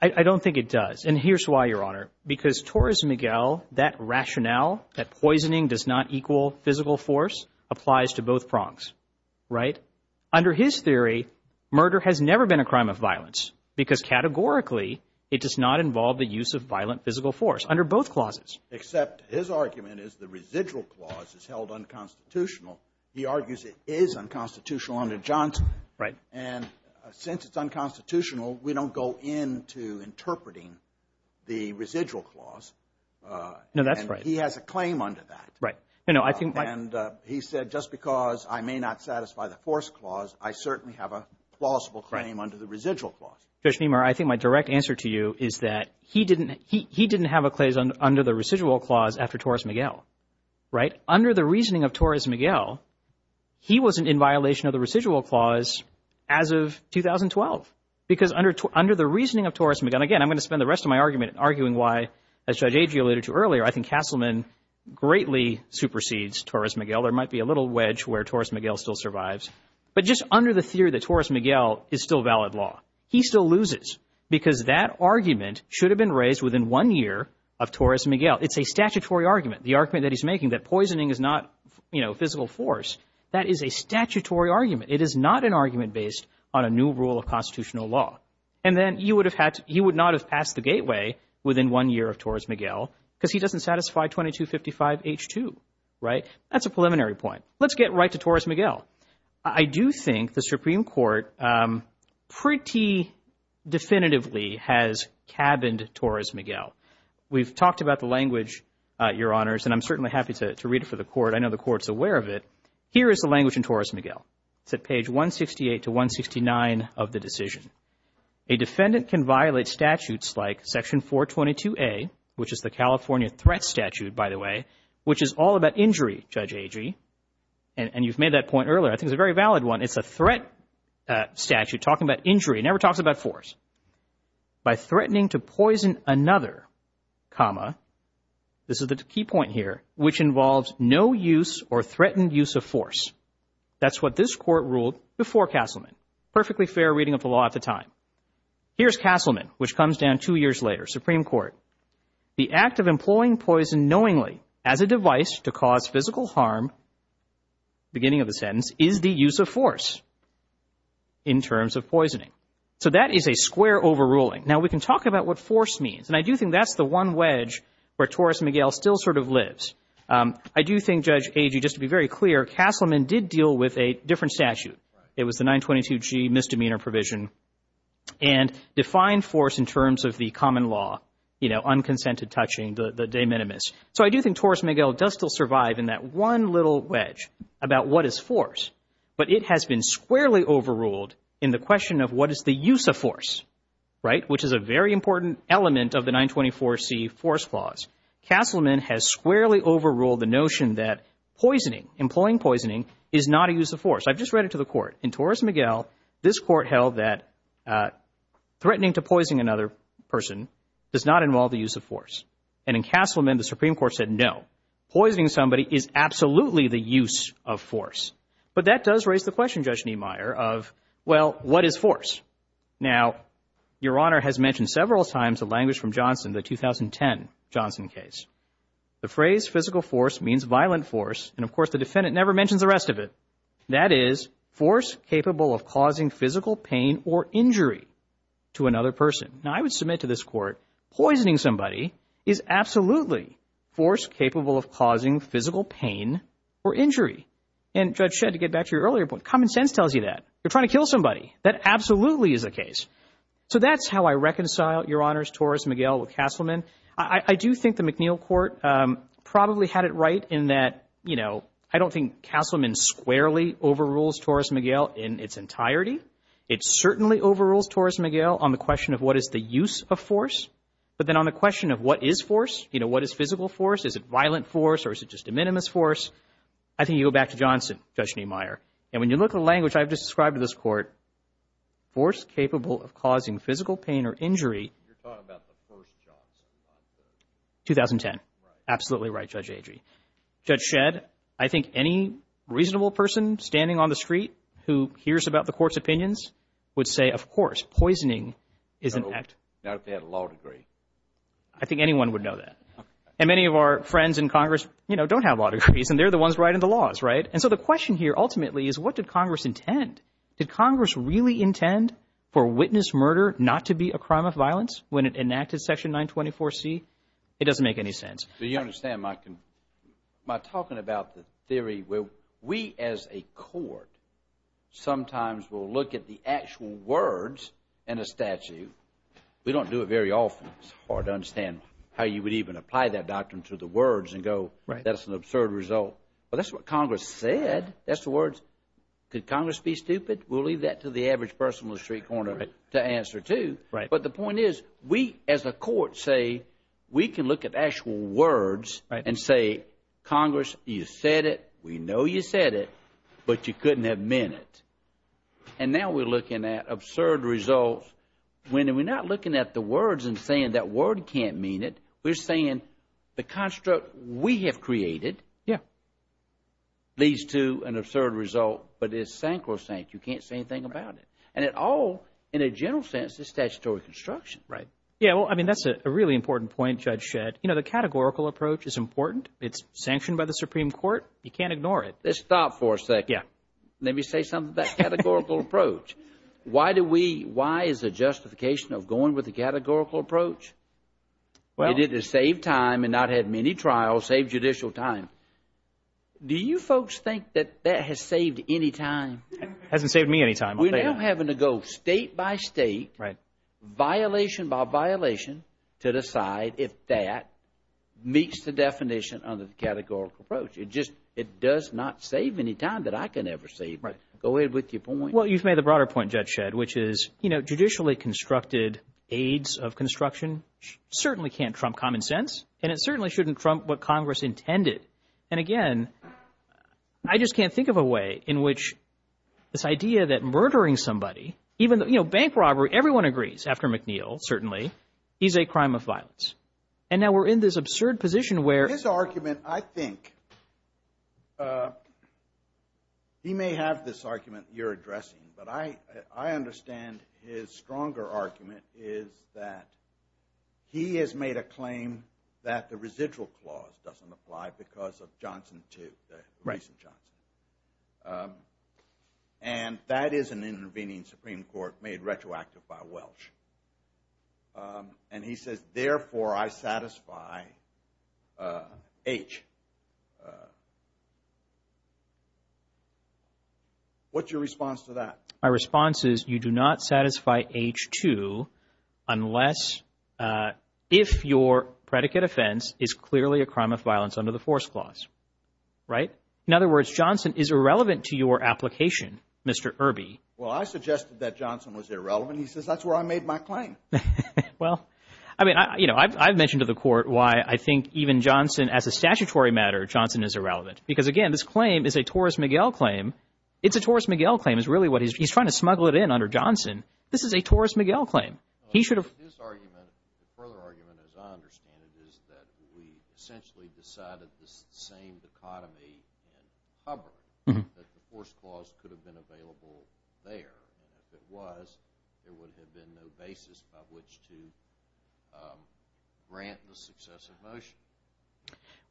I don't think it does, and here's why, Your Honor. Because Torres Miguel, that rationale, that poisoning does not equal physical force, applies to both prongs, right? Under his theory, murder has never been a crime of violence because categorically it does not involve the use of violent physical force under both clauses. Except his argument is the Residual Clause is held unconstitutional. He argues it is unconstitutional under Johnson. Right. And since it's unconstitutional, we don't go into interpreting the Residual Clause. No, that's right. And he has a claim under that. Right. And he said, just because I may not satisfy the Force Clause, I certainly have a plausible claim under the Residual Clause. Judge Meemer, I think my direct answer to you is that he didn't have a claim under the Residual Clause after Torres Miguel, right? Under the reasoning of Torres Miguel, he wasn't in violation of the Residual Clause as of 2012. Because under the reasoning of Torres Miguel, and again, I'm going to spend the rest of my argument arguing why, as Judge Agee alluded to earlier, I think Castleman greatly supersedes Torres Miguel. There might be a little wedge where Torres Miguel still survives. But just under the theory that Torres Miguel is still valid law, he still loses because that argument should have been raised within one year of Torres Miguel. It's a statutory argument, the argument that he's making, that poisoning is not physical force. That is a statutory argument. It is not an argument based on a new rule of constitutional law. And then he would not have passed the gateway within one year of Torres Miguel because he doesn't satisfy 2255H2, right? That's a preliminary point. Let's get right to Torres Miguel. I do think the Supreme Court pretty definitively has cabined Torres Miguel. We've talked about the language, Your Honors, and I'm certainly happy to read it for the Court. I know the Court's aware of it. Here is the language in Torres Miguel. It's at page 168 to 169 of the decision. A defendant can violate statutes like Section 422A, which is the California threat statute, by the way, which is all about injury, Judge Agee, and you've made that point earlier. I think it's a very valid one. It's a threat statute talking about injury. It never talks about force. By threatening to poison another, comma, this is the key point here, which involves no use or threatened use of force. That's what this Court ruled before Castleman. Perfectly fair reading of the law at the time. Here's Castleman, which comes down two years later, Supreme Court. The act of employing poison knowingly as a device to cause physical harm, beginning of the sentence, is the use of force in terms of poisoning. So that is a square overruling. Now, we can talk about what force means, and I do think that's the one wedge where Torres Miguel still sort of lives. I do think, Judge Agee, just to be very clear, Castleman did deal with a different statute. It was the 922G misdemeanor provision and defined force in terms of the common law, you know, unconsented touching, the de minimis. So I do think Torres Miguel does still survive in that one little wedge about what is force, but it has been squarely overruled in the question of what is the use of force, right, which is a very important element of the 924C force clause. Castleman has squarely overruled the notion that poisoning, employing poisoning, is not a use of force. I've just read it to the Court. In Torres Miguel, this Court held that threatening to poison another person does not involve the use of force. And in Castleman, the Supreme Court said no. Poisoning somebody is absolutely the use of force. But that does raise the question, Judge Niemeyer, of, well, what is force? Now, Your Honor has mentioned several times a language from Johnson, the 2010 Johnson case. The phrase physical force means violent force, and, of course, the defendant never mentions the rest of it. That is force capable of causing physical pain or injury to another person. Now, I would submit to this Court poisoning somebody is absolutely force capable of causing physical pain or injury. And, Judge Shedd, to get back to your earlier point, common sense tells you that. You're trying to kill somebody. That absolutely is the case. So that's how I reconcile, Your Honors, Torres Miguel with Castleman. I do think the McNeil Court probably had it right in that, you know, I don't think Castleman squarely overrules Torres Miguel in its entirety. It certainly overrules Torres Miguel on the question of what is the use of force, but then on the question of what is force, you know, what is physical force? Is it violent force or is it just a minimus force? I think you go back to Johnson, Judge Neumeier. And when you look at the language I've just described to this Court, force capable of causing physical pain or injury. You're talking about the first Johnson, aren't you? 2010. Right. Absolutely right, Judge Agee. Judge Shedd, I think any reasonable person standing on the street who hears about the Court's opinions would say, of course, poisoning is an act. Not if they had a law degree. I think anyone would know that. And many of our friends in Congress, you know, don't have law degrees, and they're the ones writing the laws, right? And so the question here ultimately is what did Congress intend? Did Congress really intend for witness murder not to be a crime of violence when it enacted Section 924C? It doesn't make any sense. Do you understand my talking about the theory where we as a Court sometimes will look at the actual words in a statute. We don't do it very often. It's hard to understand how you would even apply that doctrine to the words and go that's an absurd result. But that's what Congress said. That's the words. Could Congress be stupid? We'll leave that to the average person on the street corner to answer, too. But the point is we as a Court say we can look at actual words and say, Congress, you said it. We know you said it, but you couldn't have meant it. And now we're looking at absurd results. We're not looking at the words and saying that word can't mean it. We're saying the construct we have created leads to an absurd result, but it's sacrosanct. You can't say anything about it. And it all, in a general sense, is statutory construction. Right. Yeah, well, I mean, that's a really important point Judge Shedd. You know, the categorical approach is important. It's sanctioned by the Supreme Court. You can't ignore it. Let's stop for a second. Yeah. Let me say something about categorical approach. Why is there justification of going with the categorical approach? You did it to save time and not have many trials, save judicial time. Do you folks think that that has saved any time? It hasn't saved me any time. We're now having to go state by state, violation by violation, to decide if that meets the definition of the categorical approach. It does not save any time that I can ever save. Go ahead with your point. Well, you've made the broader point, Judge Shedd, which is, you know, judicially constructed aids of construction certainly can't trump common sense, and it certainly shouldn't trump what Congress intended. And, again, I just can't think of a way in which this idea that murdering somebody, even, you know, bank robbery, everyone agrees, after McNeil, certainly, is a crime of violence. And now we're in this absurd position where— The argument, I think, he may have this argument you're addressing, but I understand his stronger argument is that he has made a claim that the residual clause doesn't apply because of Johnson 2, the recent Johnson. And that is an intervening Supreme Court made retroactive by Welch. And he says, therefore, I satisfy H. What's your response to that? My response is you do not satisfy H2 unless if your predicate offense is clearly a crime of violence under the force clause. Right? In other words, Johnson is irrelevant to your application, Mr. Irby. Well, I suggested that Johnson was irrelevant. He says that's where I made my claim. Well, I mean, you know, I've mentioned to the court why I think even Johnson, as a statutory matter, Johnson is irrelevant. Because, again, this claim is a Torres-Miguel claim. It's a Torres-Miguel claim is really what he's—he's trying to smuggle it in under Johnson. This is a Torres-Miguel claim. He should have— His argument, the further argument, as I understand it, is that we essentially decided this same dichotomy in Hubbard that the force clause could have been available there. And if it was, there would have been no basis by which to grant the successive motion.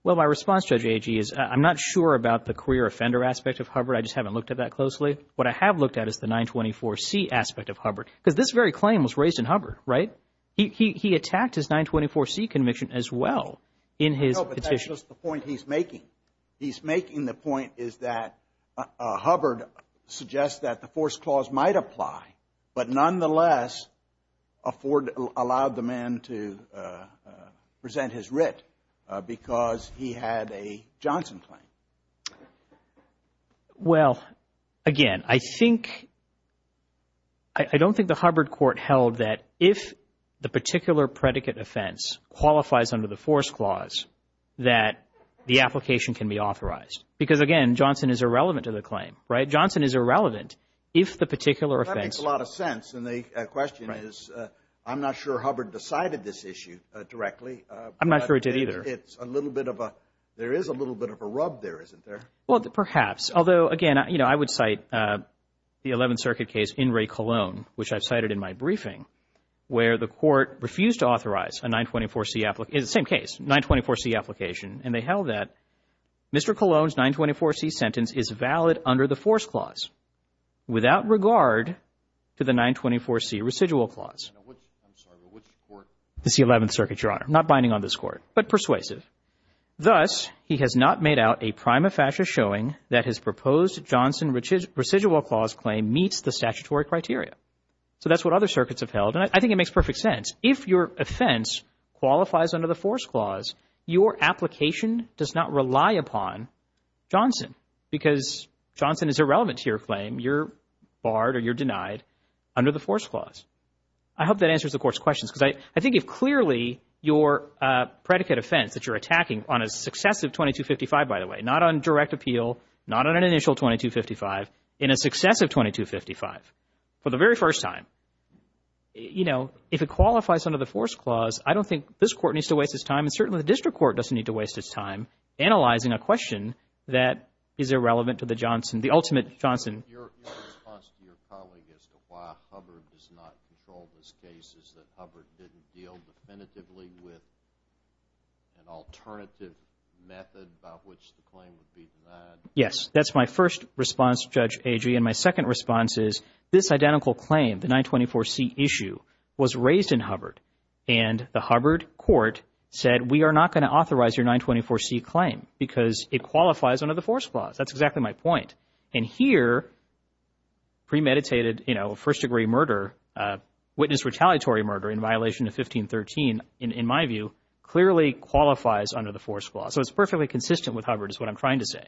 Well, my response, Judge Agee, is I'm not sure about the career offender aspect of Hubbard. I just haven't looked at that closely. What I have looked at is the 924C aspect of Hubbard. Because this very claim was raised in Hubbard, right? He attacked his 924C conviction as well in his petition. No, but that's just the point he's making. The point he's making, the point is that Hubbard suggests that the force clause might apply, but nonetheless allowed the man to present his writ because he had a Johnson claim. Well, again, I think—I don't think the Hubbard court held that if the particular predicate offense qualifies under the force clause that the application can be authorized. Because, again, Johnson is irrelevant to the claim, right? Johnson is irrelevant if the particular offense— Well, that makes a lot of sense. And the question is I'm not sure Hubbard decided this issue directly. I'm not sure it did either. It's a little bit of a—there is a little bit of a rub there, isn't there? Well, perhaps. Although, again, you know, I would cite the Eleventh Circuit case in Ray Colon, which I've cited in my briefing, where the court refused to authorize a 924C—it's the same case, a 924C application, and they held that Mr. Colon's 924C sentence is valid under the force clause without regard to the 924C residual clause. I'm sorry, but which court? The Eleventh Circuit, Your Honor. I'm not binding on this court, but persuasive. Thus, he has not made out a prima facie showing that his proposed Johnson residual clause claim meets the statutory criteria. So that's what other circuits have held, and I think it makes perfect sense. If your offense qualifies under the force clause, your application does not rely upon Johnson because Johnson is irrelevant to your claim. You're barred or you're denied under the force clause. I hope that answers the Court's questions because I think if clearly your predicate offense that you're attacking on a successive 2255, by the way, not on direct appeal, not on an initial 2255, in a successive 2255, for the very first time, you know, if it qualifies under the force clause, I don't think this Court needs to waste its time, and certainly the District Court doesn't need to waste its time analyzing a question that is irrelevant to the Johnson, the ultimate Johnson. Your response to your colleague as to why Hubbard does not control this case is that Hubbard didn't deal definitively with an alternative method about which the claim would be denied. Yes, that's my first response, Judge Agee. And my second response is this identical claim, the 924C issue, was raised in Hubbard, and the Hubbard Court said we are not going to authorize your 924C claim because it qualifies under the force clause. That's exactly my point. And here, premeditated, you know, first-degree murder, witness retaliatory murder in violation of 1513, in my view, clearly qualifies under the force clause. So it's perfectly consistent with Hubbard is what I'm trying to say.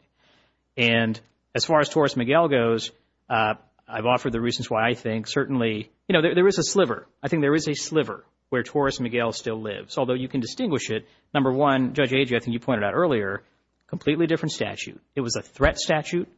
And as far as Torres-Miguel goes, I've offered the reasons why I think certainly, you know, there is a sliver. I think there is a sliver where Torres-Miguel still lives, although you can distinguish it. Number one, Judge Agee, I think you pointed out earlier, completely different statute. It was a threat statute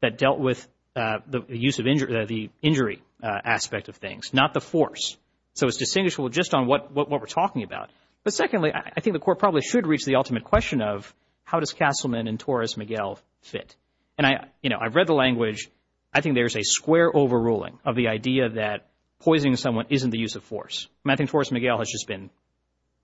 that dealt with the use of injury, the injury aspect of things, not the force. So it's distinguishable just on what we're talking about. But secondly, I think the Court probably should reach the ultimate question of how does Castleman and Torres-Miguel fit? And, you know, I've read the language. I think there's a square overruling of the idea that poisoning someone isn't the use of force. I think Torres-Miguel has just been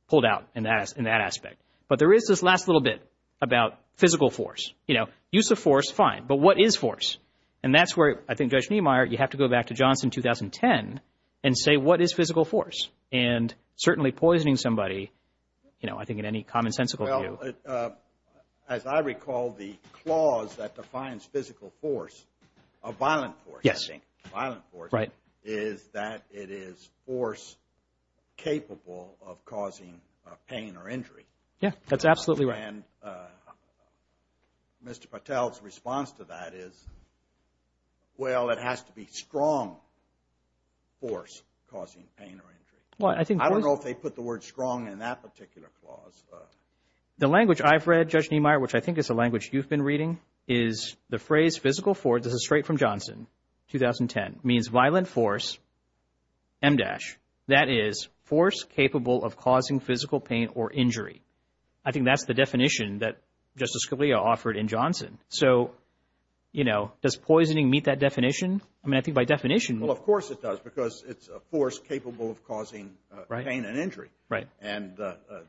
pulled out in that aspect. But there is this last little bit about physical force. You know, use of force, fine, but what is force? And that's where, I think, Judge Niemeyer, you have to go back to Johnson 2010 and say what is physical force. And certainly poisoning somebody, you know, I think in any commonsensical view. Well, as I recall, the clause that defines physical force, a violent force, I think, violent force, is that it is force capable of causing pain or injury. Yeah, that's absolutely right. And Mr. Patel's response to that is, well, it has to be strong force causing pain or injury. I don't know if they put the word strong in that particular clause. The language I've read, Judge Niemeyer, which I think is the language you've been reading, is the phrase physical force, this is straight from Johnson 2010, means violent force, M-dash. That is force capable of causing physical pain or injury. I think that's the definition that Justice Scalia offered in Johnson. So, you know, does poisoning meet that definition? I mean, I think by definition. Well, of course it does because it's a force capable of causing pain and injury. Right. And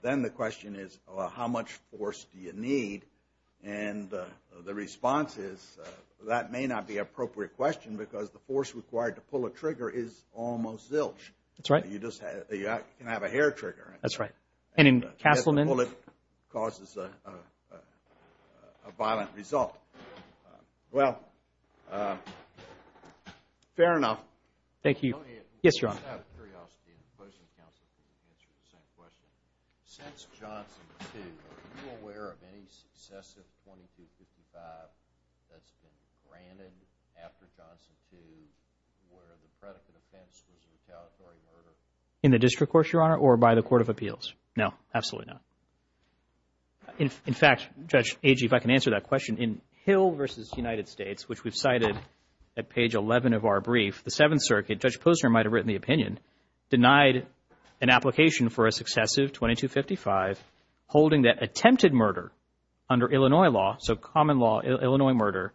then the question is how much force do you need? And the response is that may not be an appropriate question because the force required to pull a trigger is almost zilch. That's right. You can have a hair trigger. That's right. And in Castleman? A bullet causes a violent result. Well, fair enough. Thank you. Yes, Your Honor. Just out of curiosity and closing counsel, can you answer the same question? Since Johnson 2, are you aware of any successive 2255 that's been granted after Johnson 2 where the predicate offense was a retaliatory murder? In the district court, Your Honor, or by the Court of Appeals? No, absolutely not. In fact, Judge Agee, if I can answer that question, in Hill v. United States, which we've cited at page 11 of our brief, the Seventh Circuit, Judge Posner might have written the opinion, denied an application for a successive 2255 holding that attempted murder under Illinois law, so common law Illinois murder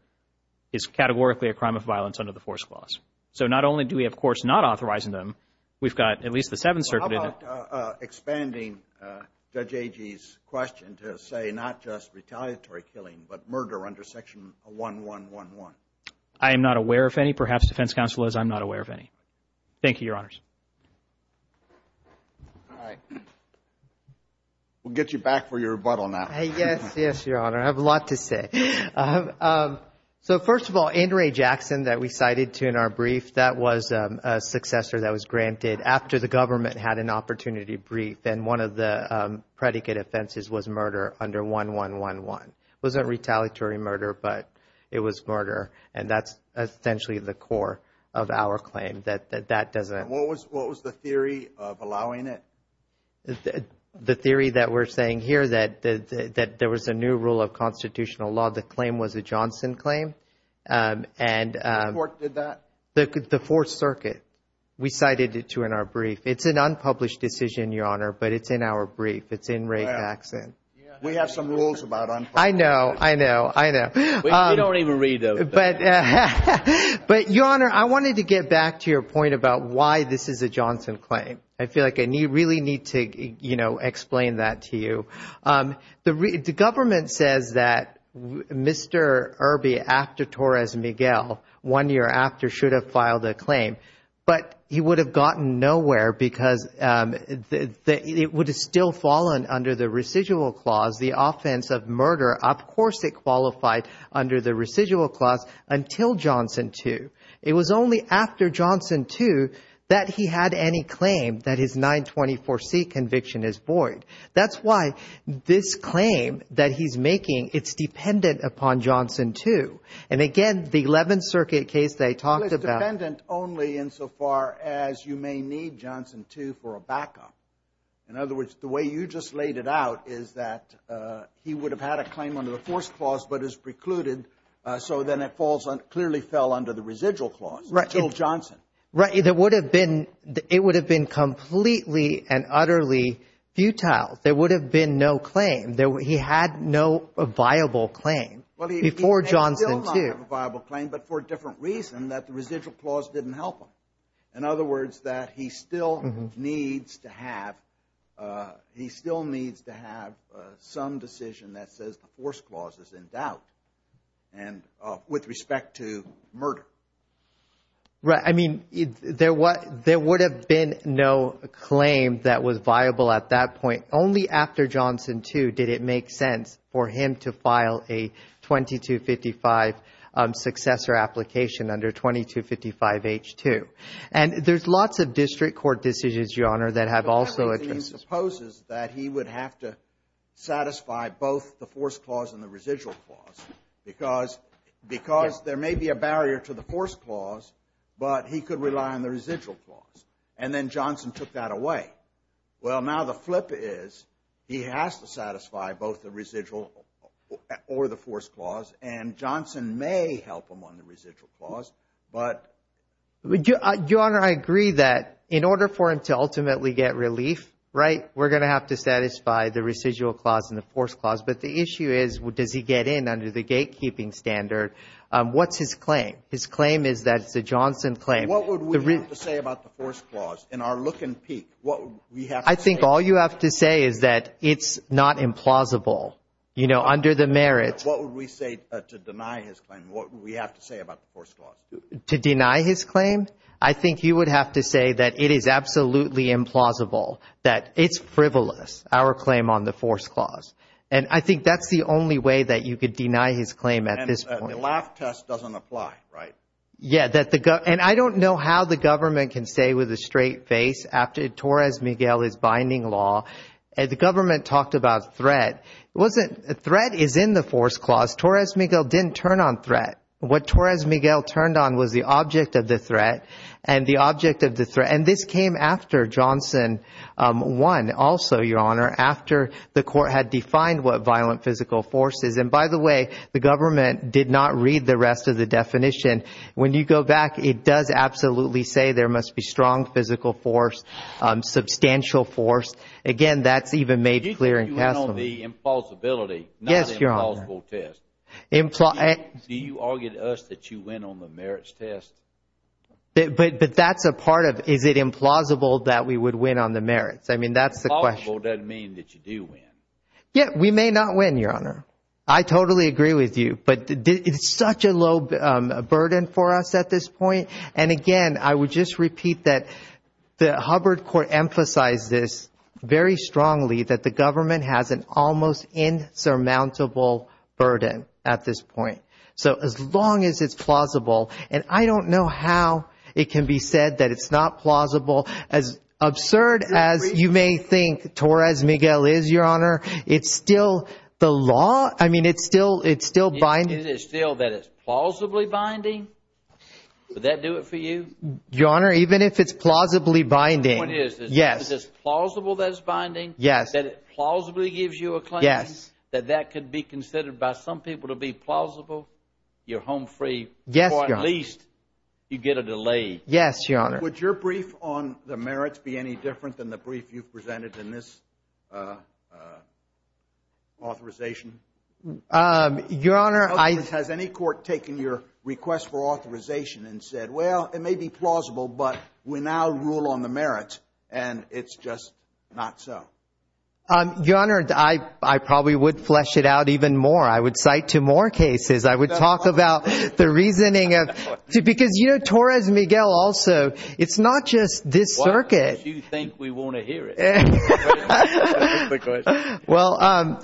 is categorically a crime of violence under the force clause. So not only do we, of course, not authorize them, we've got at least the Seventh Circuit. How about expanding Judge Agee's question to say not just retaliatory killing, but murder under Section 1111? I am not aware of any. Perhaps defense counsel is. I'm not aware of any. Thank you, Your Honors. All right. We'll get you back for your rebuttal now. Yes, yes, Your Honor. I have a lot to say. So first of all, Andre Jackson that we cited to in our brief, that was a successor that was granted after the government had an opportunity brief, and one of the predicate offenses was murder under 1111. It wasn't retaliatory murder, but it was murder, and that's essentially the core of our claim, that that doesn't. What was the theory of allowing it? The theory that we're saying here that there was a new rule of constitutional law. The claim was a Johnson claim. Which court did that? The Fourth Circuit. We cited it to in our brief. It's an unpublished decision, Your Honor, but it's in our brief. It's in Ray Jackson. We have some rules about unpublished decisions. I know, I know, I know. We don't even read those. But, Your Honor, I wanted to get back to your point about why this is a Johnson claim. I feel like I really need to explain that to you. The government says that Mr. Irby, after Torres Miguel, one year after, should have filed a claim, but he would have gotten nowhere because it would have still fallen under the residual clause, the offense of murder. Of course it qualified under the residual clause until Johnson 2. It was only after Johnson 2 that he had any claim that his 924C conviction is void. That's why this claim that he's making, it's dependent upon Johnson 2. And, again, the Eleventh Circuit case they talked about. It's dependent only insofar as you may need Johnson 2 for a backup. In other words, the way you just laid it out is that he would have had a claim under the force clause but is precluded so then it clearly fell under the residual clause until Johnson. Right. It would have been completely and utterly futile. There would have been no claim. He had no viable claim before Johnson 2. Well, he may still not have a viable claim but for a different reason that the residual clause didn't help him. In other words, that he still needs to have some decision that says the force clause is in doubt with respect to murder. Right. I mean, there would have been no claim that was viable at that point. Only after Johnson 2 did it make sense for him to file a 2255 successor application under 2255H2. And there's lots of district court decisions, Your Honor, that have also addressed this. He supposes that he would have to satisfy both the force clause and the residual clause because there may be a barrier to the force clause but he could rely on the residual clause. And then Johnson took that away. Well, now the flip is he has to satisfy both the residual or the force clause and Johnson may help him on the residual clause but. Your Honor, I agree that in order for him to ultimately get relief, right, we're going to have to satisfy the residual clause and the force clause. But the issue is, does he get in under the gatekeeping standard? What's his claim? His claim is that it's a Johnson claim. What would we have to say about the force clause in our look and peek? I think all you have to say is that it's not implausible. You know, under the merits. What would we say to deny his claim? What would we have to say about the force clause? To deny his claim? I think you would have to say that it is absolutely implausible, that it's frivolous, our claim on the force clause. And I think that's the only way that you could deny his claim at this point. And the laugh test doesn't apply, right? Yeah. And I don't know how the government can stay with a straight face after Torres Miguel is binding law. The government talked about threat. Threat is in the force clause. Torres Miguel didn't turn on threat. What Torres Miguel turned on was the object of the threat and the object of the threat. And this came after Johnson won also, Your Honor, after the court had defined what violent physical force is. And, by the way, the government did not read the rest of the definition. When you go back, it does absolutely say there must be strong physical force, substantial force. Again, that's even made clear in Cassel. Do you think you went on the implausibility, not the implausible test? Yes, Your Honor. Do you argue to us that you went on the merits test? But that's a part of it. Is it implausible that we would win on the merits? I mean, that's the question. Implausible doesn't mean that you do win. Yeah, we may not win, Your Honor. I totally agree with you. But it's such a low burden for us at this point. And, again, I would just repeat that the Hubbard court emphasized this very strongly, that the government has an almost insurmountable burden at this point. So, as long as it's plausible, and I don't know how it can be said that it's not plausible. As absurd as you may think Torres-Miguel is, Your Honor, it's still the law. I mean, it's still binding. Is it still that it's plausibly binding? Would that do it for you? Your Honor, even if it's plausibly binding, yes. The point is, is it plausible that it's binding? Yes. That it plausibly gives you a claim? Yes. That that could be considered by some people to be plausible? You're home free. Yes, Your Honor. Or at least you get a delay. Yes, Your Honor. Would your brief on the merits be any different than the brief you've presented in this authorization? Your Honor, I Has any court taken your request for authorization and said, well, it may be plausible, but we now rule on the merits, and it's just not so? Your Honor, I probably would flesh it out even more. I would cite to more cases. I would talk about the reasoning of because, you know, Torres-Miguel also, it's not just this circuit. Why do you think we want to hear it? Well,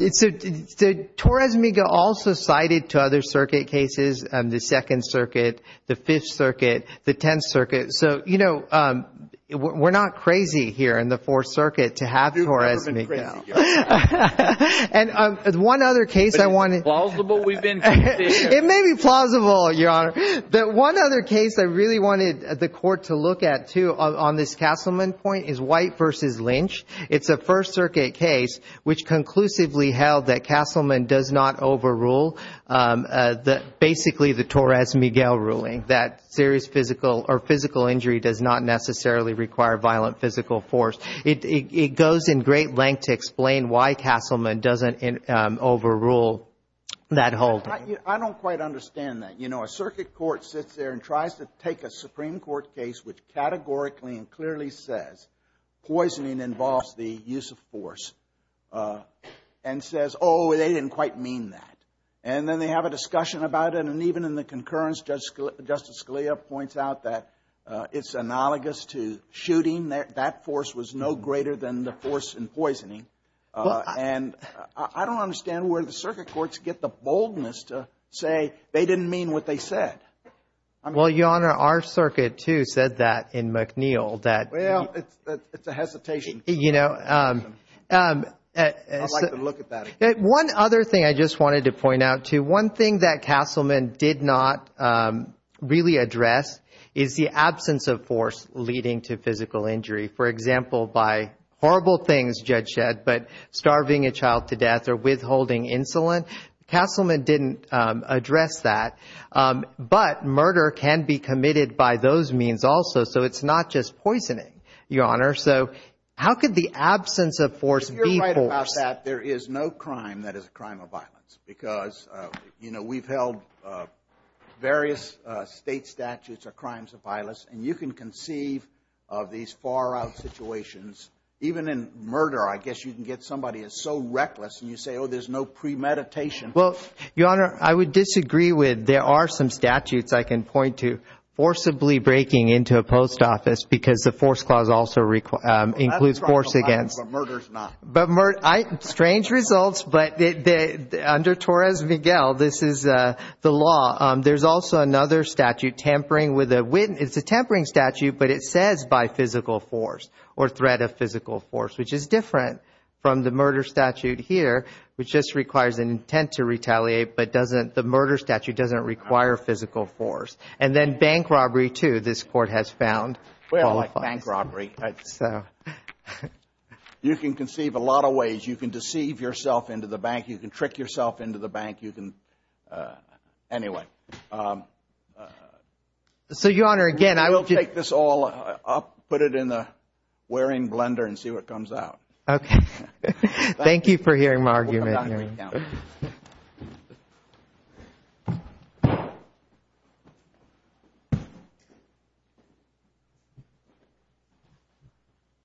Torres-Miguel also cited to other circuit cases, the Second Circuit, the Fifth Circuit, the Tenth Circuit. So, you know, we're not crazy here in the Fourth Circuit to have Torres-Miguel. And one other case I wanted But it's plausible we've been consistent? It may be plausible, Your Honor. But one other case I really wanted the court to look at, too, on this Castleman point is White v. Lynch. It's a First Circuit case which conclusively held that Castleman does not overrule basically the Torres-Miguel ruling, that serious physical or physical injury does not necessarily require violent physical force. It goes in great length to explain why Castleman doesn't overrule that holding. I don't quite understand that. You know, a circuit court sits there and tries to take a Supreme Court case which categorically and clearly says poisoning involves the use of force and says, oh, they didn't quite mean that. And then they have a discussion about it. And even in the concurrence, Justice Scalia points out that it's analogous to shooting. That force was no greater than the force in poisoning. And I don't understand where the circuit courts get the boldness to say they didn't mean what they said. Well, Your Honor, our circuit, too, said that in McNeil. Well, it's a hesitation. You know. I'd like to look at that again. One other thing I just wanted to point out, too. One thing that Castleman did not really address is the absence of force leading to physical injury. For example, by horrible things, Judge Shedd, but starving a child to death or withholding insulin. Castleman didn't address that. But murder can be committed by those means also. So it's not just poisoning, Your Honor. So how could the absence of force be force? I think about that. There is no crime that is a crime of violence. Because, you know, we've held various state statutes of crimes of violence. And you can conceive of these far-out situations. Even in murder, I guess you can get somebody as so reckless and you say, oh, there's no premeditation. Well, Your Honor, I would disagree with. There are some statutes I can point to forcibly breaking into a post office because the force clause also includes force against. But murder is not. Strange results, but under Torres-Miguel, this is the law. There's also another statute, tampering with a witness. It's a tampering statute, but it says by physical force or threat of physical force, which is different from the murder statute here, which just requires an intent to retaliate, but the murder statute doesn't require physical force. And then bank robbery, too, this Court has found qualifies. Bank robbery. You can conceive a lot of ways. You can deceive yourself into the bank. You can trick yourself into the bank. Anyway. So, Your Honor, again, I will take this all up, put it in the wearing blender and see what comes out. Okay. Thank you for hearing my argument. Thank you.